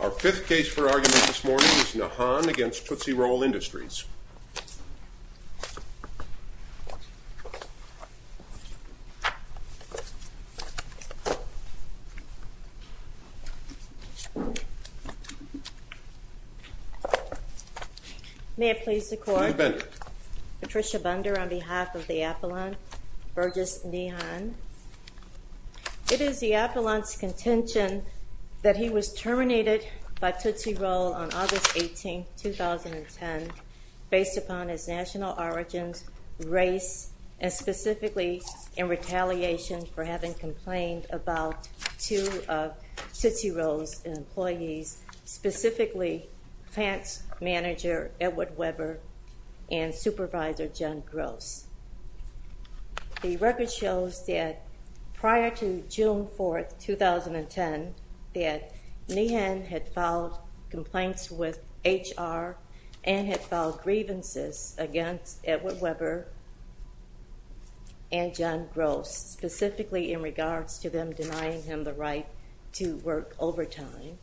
Our fifth case for argument this morning is Nehan v. Tootsie Roll Industries. May it please the Court? Judith Bender. Patricia Bender on behalf of the Appellant Burgess Nehan. It is the Appellant's contention that he was terminated by Tootsie Roll on August 18, 2010, based upon his national origins, race, and specifically in retaliation for having complained about two of Tootsie Roll's employees, specifically plants manager Edward Weber and supervisor Jen Gross. The record shows that prior to June 4, 2010, that Nehan had filed complaints with HR and had filed grievances against Edward Weber and Jen Gross, specifically in regards to them denying him the right to work overtime.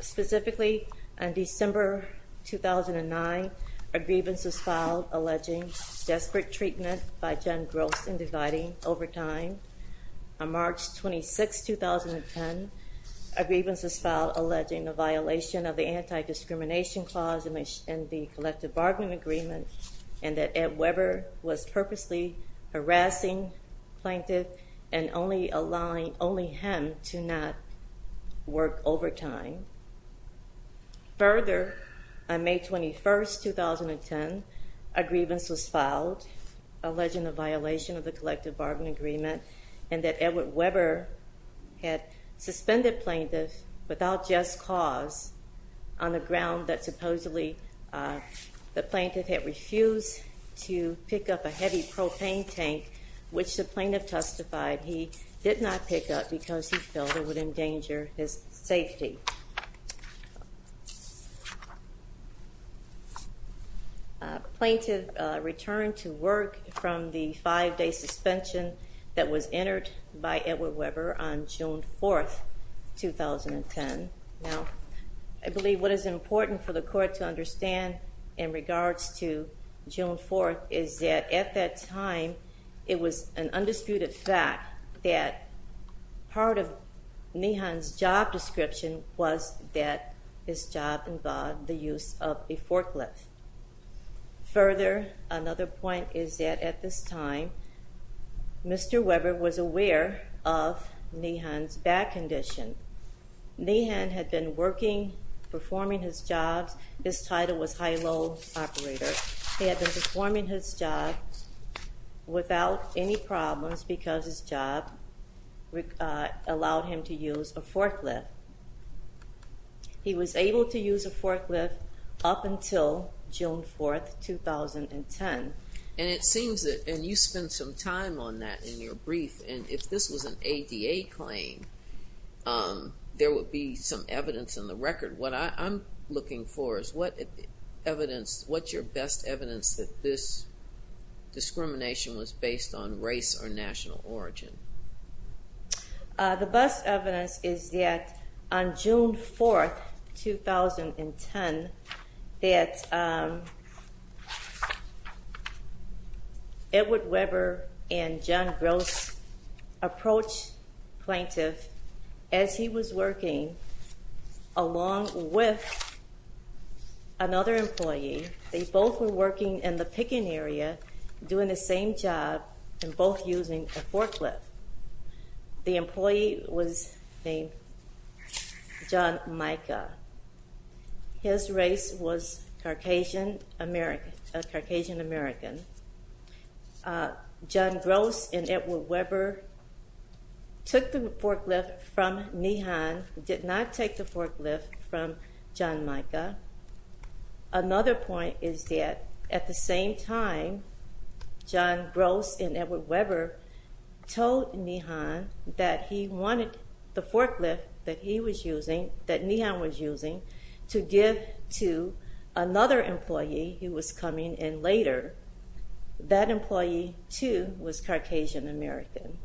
Specifically, on December 2009, a grievance was filed alleging desperate treatment by Jen Gross in dividing overtime. On March 26, 2010, a grievance was filed alleging the violation of the Anti-Discrimination Clause in the Collective Bargaining Agreement and that Ed Weber was purposely harassing plaintiff and only him to not work overtime. Further, on May 21, 2010, a grievance was filed alleging the violation of the Collective Bargaining Agreement and that Edward Weber had suspended plaintiff without just cause on the ground that supposedly the plaintiff had refused to pick up a heavy propane tank, which the plaintiff testified he did not pick up because he felt it would endanger his safety. The plaintiff returned to work from the five-day suspension that was entered by Edward Weber on June 4, 2010. Now, I believe what is important for the Court to understand in regards to June 4 is that at that time, it was an undisputed fact that part of Nehan's job description was that his job involved the use of a forklift. Further, another point is that at this time, Mr. Weber was aware of Nehan's back condition. Nehan had been working, performing his job. His title was High Load Operator. He had been performing his job without any problems because his job allowed him to use a forklift. He was able to use a forklift up until June 4, 2010. And it seems that, and you spent some time on that in your brief, and if this was an ADA claim, there would be some evidence in the record. What I'm looking for is what evidence, what's your best evidence that this discrimination was based on race or national origin? The best evidence is that on June 4, 2010, that Edward Weber and John Gross approached the plaintiff as he was working along with another employee. They both were working in the picking area, doing the same job, and both using a forklift. The employee was named John Micah. His race was Caucasian American. John Gross and Edward Weber took the forklift from Nehan, did not take the forklift from John Micah. Another point is that at the same time John Gross and Edward Weber told Nehan that he wanted the forklift that he was using, that Nehan was using, to give to another employee who was coming in later. That employee, too, was Caucasian American.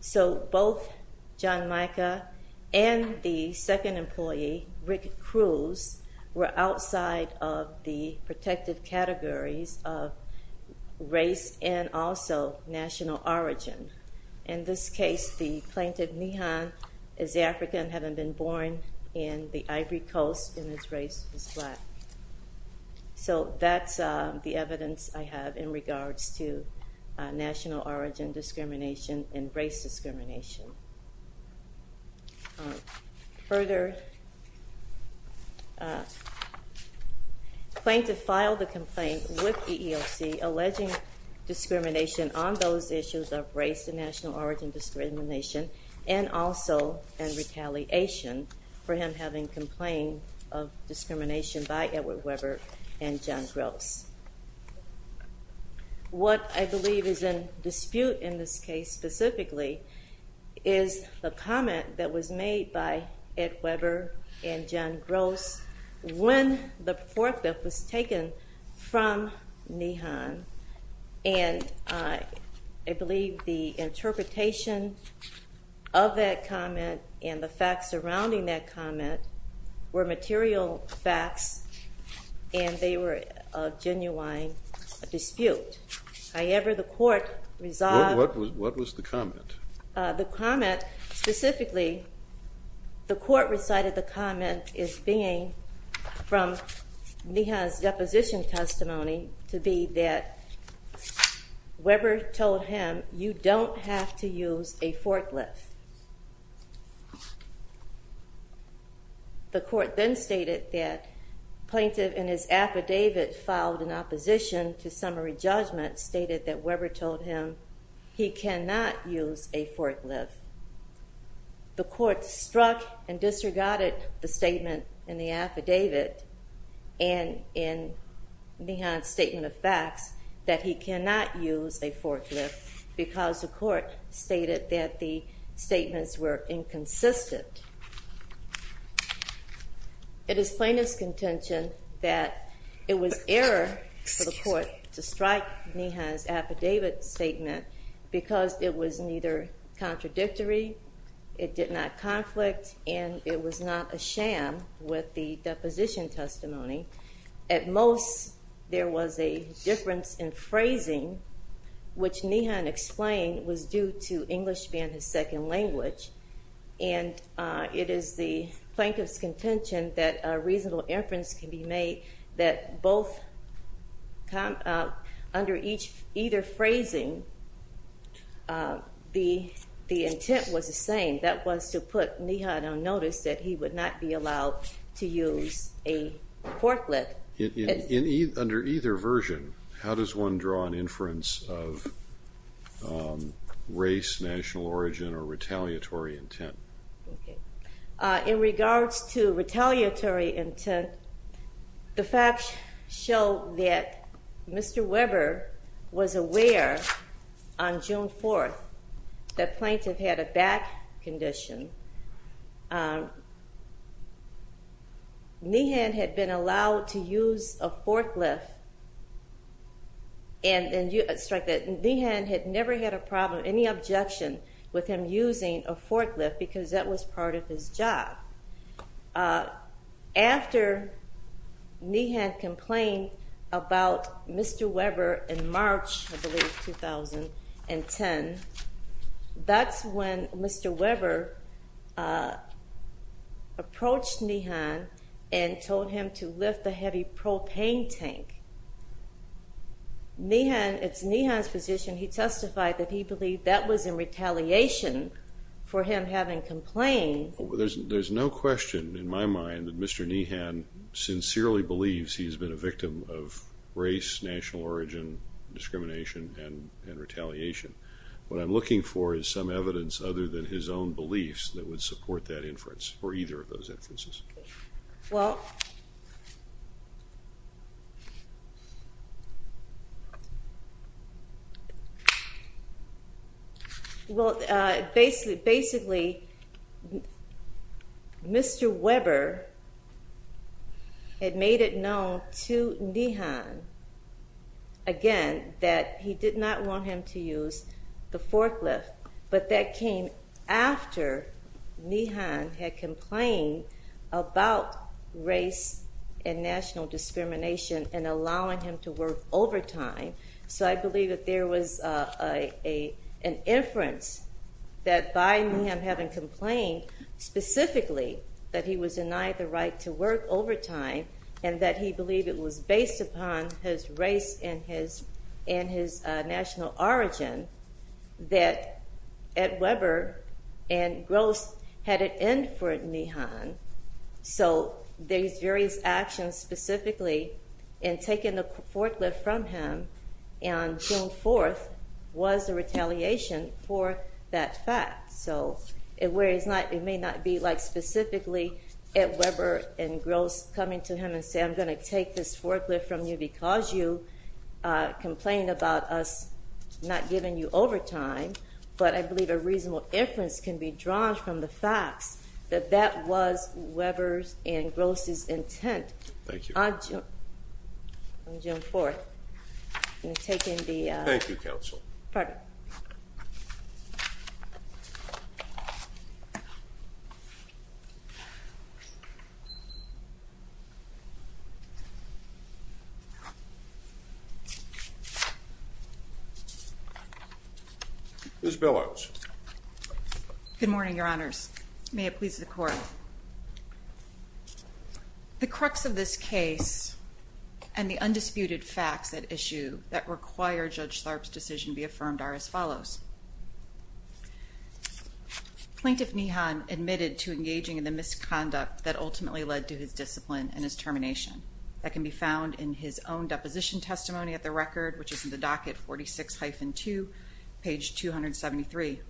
So both John Micah and the second employee, Rick Cruz, were outside of the protected categories of race and also national origin. In this case, the plaintiff, Nehan, is African, having been born in the Ivory Coast, and his race was black. So that's the evidence I have in regards to national origin discrimination and race discrimination. Further, the plaintiff filed a complaint with EEOC alleging discrimination on those issues of race and national origin discrimination, and also in retaliation for him having complained of discrimination by Edward Weber and John Gross. What I believe is in dispute in this case, specifically, is the comment that was made by Edward Weber and John Gross when the forklift was taken from Nehan. And I believe the interpretation of that comment and the facts surrounding that comment were material facts, and they were of genuine dispute. However, the court resolved... What was the comment? The comment, specifically, the court recited the comment as being from Nehan's deposition testimony to be that Weber told him, you don't have to use a forklift. The court then stated that the plaintiff, in his affidavit filed in opposition to summary judgment, stated that Weber told him he cannot use a forklift. The court struck and disregarded the statement in the affidavit and in Nehan's statement of facts that he cannot use a forklift because the court stated that the statements were inconsistent. It is plaintiff's contention that it was error for the court to strike Nehan's affidavit statement because it was neither contradictory, it did not conflict, and it was not a sham with the deposition testimony. At most, there was a difference in phrasing, which Nehan explained was due to English being his second language. And it is the plaintiff's contention that a reasonable inference can be made that under either phrasing, the intent was the same. That was to put Nehan on notice that he would not be allowed to use a forklift. Under either version, how does one draw an inference of race, national origin, or retaliatory intent? In regards to retaliatory intent, the facts show that Mr. Weber was aware on June 4th that plaintiff had a back condition. Nehan had been allowed to use a forklift and Nehan had never had a problem, any objection with him using a forklift because that was part of his job. After Nehan complained about Mr. Weber in March, I believe, 2010, that's when Mr. Weber approached Nehan and told him to lift the heavy propane tank. Nehan, it's Nehan's position, he testified that he believed that was in retaliation for him having complained. Well, there's no question in my mind that Mr. Nehan sincerely believes he's been a victim of race, national origin, discrimination, and retaliation. What I'm looking for is some evidence other than his own beliefs that would support that inference or either of those inferences. Well, basically, Mr. Weber had made it known to Nehan, again, that he did not want him to use the forklift, but that came after Nehan had complained about race and national discrimination and allowing him to work overtime. So I believe that there was an inference that by Nehan having complained specifically that he was denied the right to work overtime and that he believed it was based upon his race and his national origin that Ed Weber and Gross had an end for Nehan. So these various actions specifically in taking the forklift from him on June 4th was a retaliation for that fact. So it may not be like specifically Ed Weber and Gross coming to him and saying, I'm going to take this forklift from you because you complained about us not giving you overtime, but I believe a reasonable inference can be drawn from the facts that that was Weber's and Gross's intent on June 4th. I'm going to take in the- Thank you, Counsel. Pardon me. Ms. Billouts. Good morning, Your Honors. May it please the Court. The crux of this case and the undisputed facts at issue that require Judge Tharp's decision to be affirmed are as follows. Plaintiff Nehan admitted to engaging in the misconduct that ultimately led to his discipline and his termination. That can be found in his own deposition testimony at the record, which is in the docket 46-2, page 273.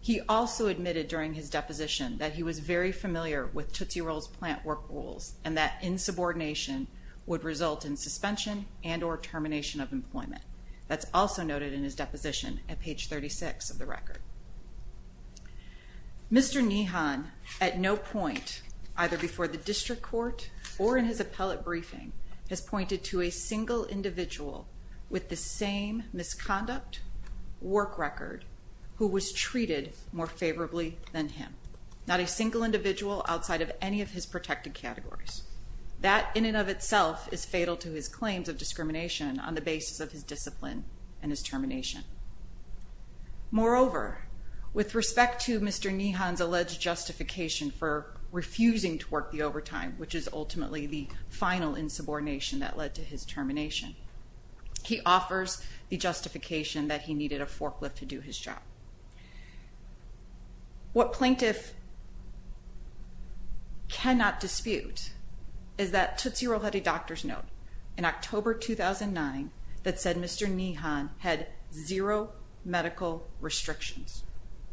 He also admitted during his deposition that he was very familiar with Tootsie Roll's plant work rules and that insubordination would result in suspension and or termination of employment. That's also noted in his deposition at page 36 of the record. Mr. Nehan, at no point, either before the district court or in his appellate briefing, has pointed to a single individual with the same misconduct work record who was treated more favorably than him. Not a single individual outside of any of his protected categories. That, in and of itself, is fatal to his claims of discrimination on the basis of his discipline and his termination. Moreover, with respect to Mr. Nehan's alleged justification for refusing to work the overtime, which is ultimately the final insubordination that led to his termination, he offers the justification that he needed a forklift to do his job. What plaintiff cannot dispute is that Tootsie Roll had a doctor's note in October 2009 that said Mr. Nehan had zero medical restrictions.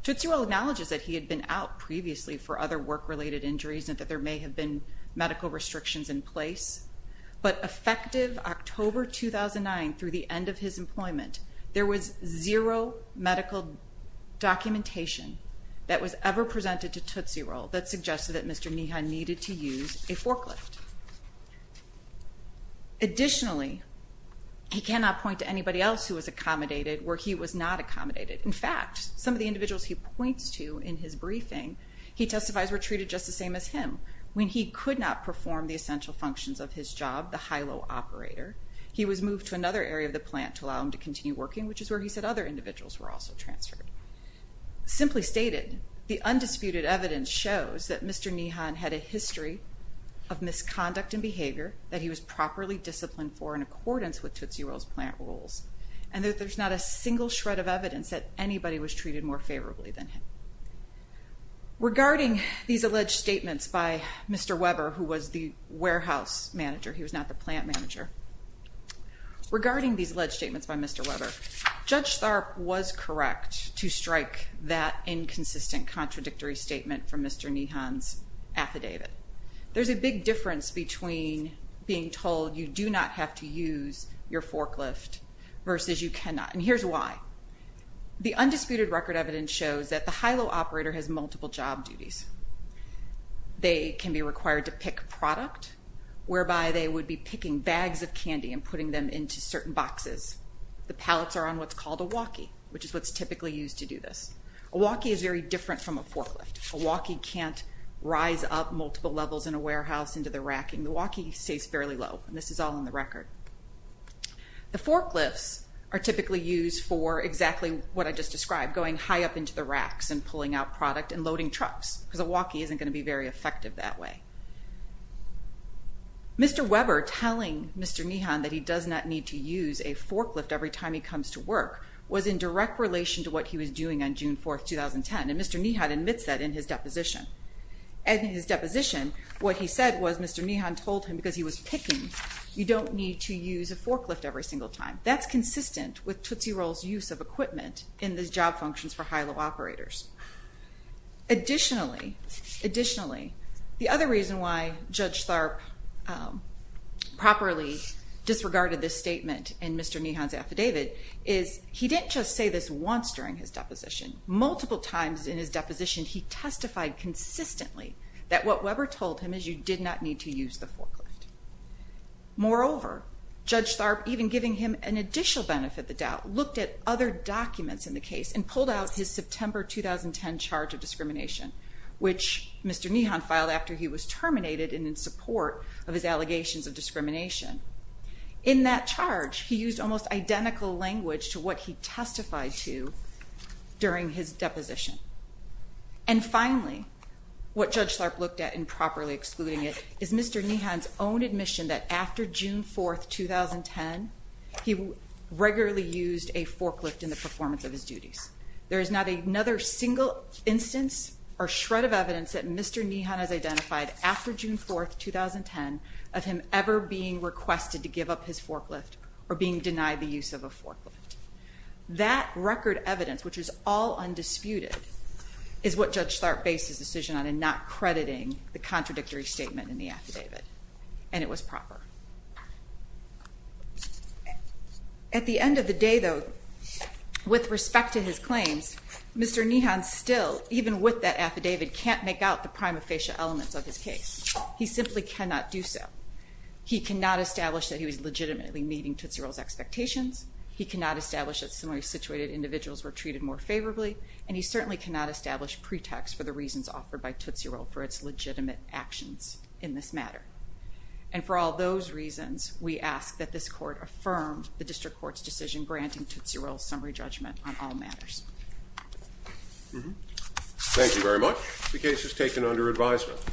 Tootsie Roll acknowledges that he had been out previously for other work-related injuries and that there may have been medical restrictions in place, but effective October 2009, through the end of his employment, there was zero medical documentation that was ever presented to Tootsie Roll that suggested that Mr. Nehan needed to use a forklift. Additionally, he cannot point to anybody else who was accommodated where he was not accommodated. In fact, some of the individuals he points to in his briefing he testifies were treated just the same as him. When he could not perform the essential functions of his job, the high-low operator, he was moved to another area of the plant to allow him to continue working, which is where he said other individuals were also transferred. Simply stated, the undisputed evidence shows that Mr. Nehan had a history of misconduct and behavior that he was properly disciplined for in accordance with Tootsie Roll's plant rules, and that there's not a single shred of evidence that anybody was treated more favorably than him. Regarding these alleged statements by Mr. Weber, who was the warehouse manager, he was not the plant manager, regarding these alleged statements by Mr. Weber, Judge Tharp was correct to strike that inconsistent contradictory statement from Mr. Nehan's affidavit. There's a big difference between being told you do not have to use your forklift versus you cannot, and here's why. The undisputed record evidence shows that the high-low operator has multiple job duties. They can be required to pick product, whereby they would be picking bags of candy and putting them into certain boxes. The pallets are on what's called a walkie, which is what's typically used to do this. A walkie is very different from a forklift. A walkie can't rise up multiple levels in a warehouse into the racking. The walkie stays fairly low, and this is all in the record. The forklifts are typically used for exactly what I just described, going high up into the racks and pulling out product and loading trucks, because a walkie isn't going to be very effective that way. Mr. Weber telling Mr. Nehan that he does not need to use a forklift every time he comes to work was in direct relation to what he was doing on June 4, 2010, and Mr. Nehan admits that in his deposition. In his deposition, what he said was Mr. Nehan told him because he was picking, you don't need to use a forklift every single time. That's consistent with Tootsie Roll's use of equipment in the job functions for high-low operators. Additionally, the other reason why Judge Tharp properly disregarded this statement in Mr. Nehan's affidavit is he didn't just say this once during his deposition. Multiple times in his deposition, he testified consistently that what Weber told him is you did not need to use the forklift. Moreover, Judge Tharp, even giving him an additional benefit of the doubt, looked at other documents in the case and pulled out his September 2010 charge of discrimination, which Mr. Nehan filed after he was terminated and in support of his allegations of discrimination. In that charge, he used almost identical language to what he testified to during his deposition. And finally, what Judge Tharp looked at in properly excluding it is Mr. Nehan's own admission that after June 4, 2010, he regularly used a forklift in the performance of his duties. There is not another single instance or shred of evidence that Mr. Nehan has identified after June 4, 2010, of him ever being requested to give up his forklift or being denied the use of a forklift. That record evidence, which is all undisputed, is what Judge Tharp based his decision on in not crediting the contradictory statement in the affidavit. And it was proper. At the end of the day, though, with respect to his claims, Mr. Nehan still, even with that affidavit, can't make out the prima facie elements of his case. He simply cannot do so. He cannot establish that he was legitimately meeting Tootsie Roll's expectations. He cannot establish that similarly situated individuals were treated more favorably. And he certainly cannot establish pretext for the reasons offered by Tootsie Roll for its legitimate actions in this matter. And for all those reasons, we ask that this court affirm the district court's decision granting Tootsie Roll's summary judgment on all matters. Thank you very much. The case is taken under advisement.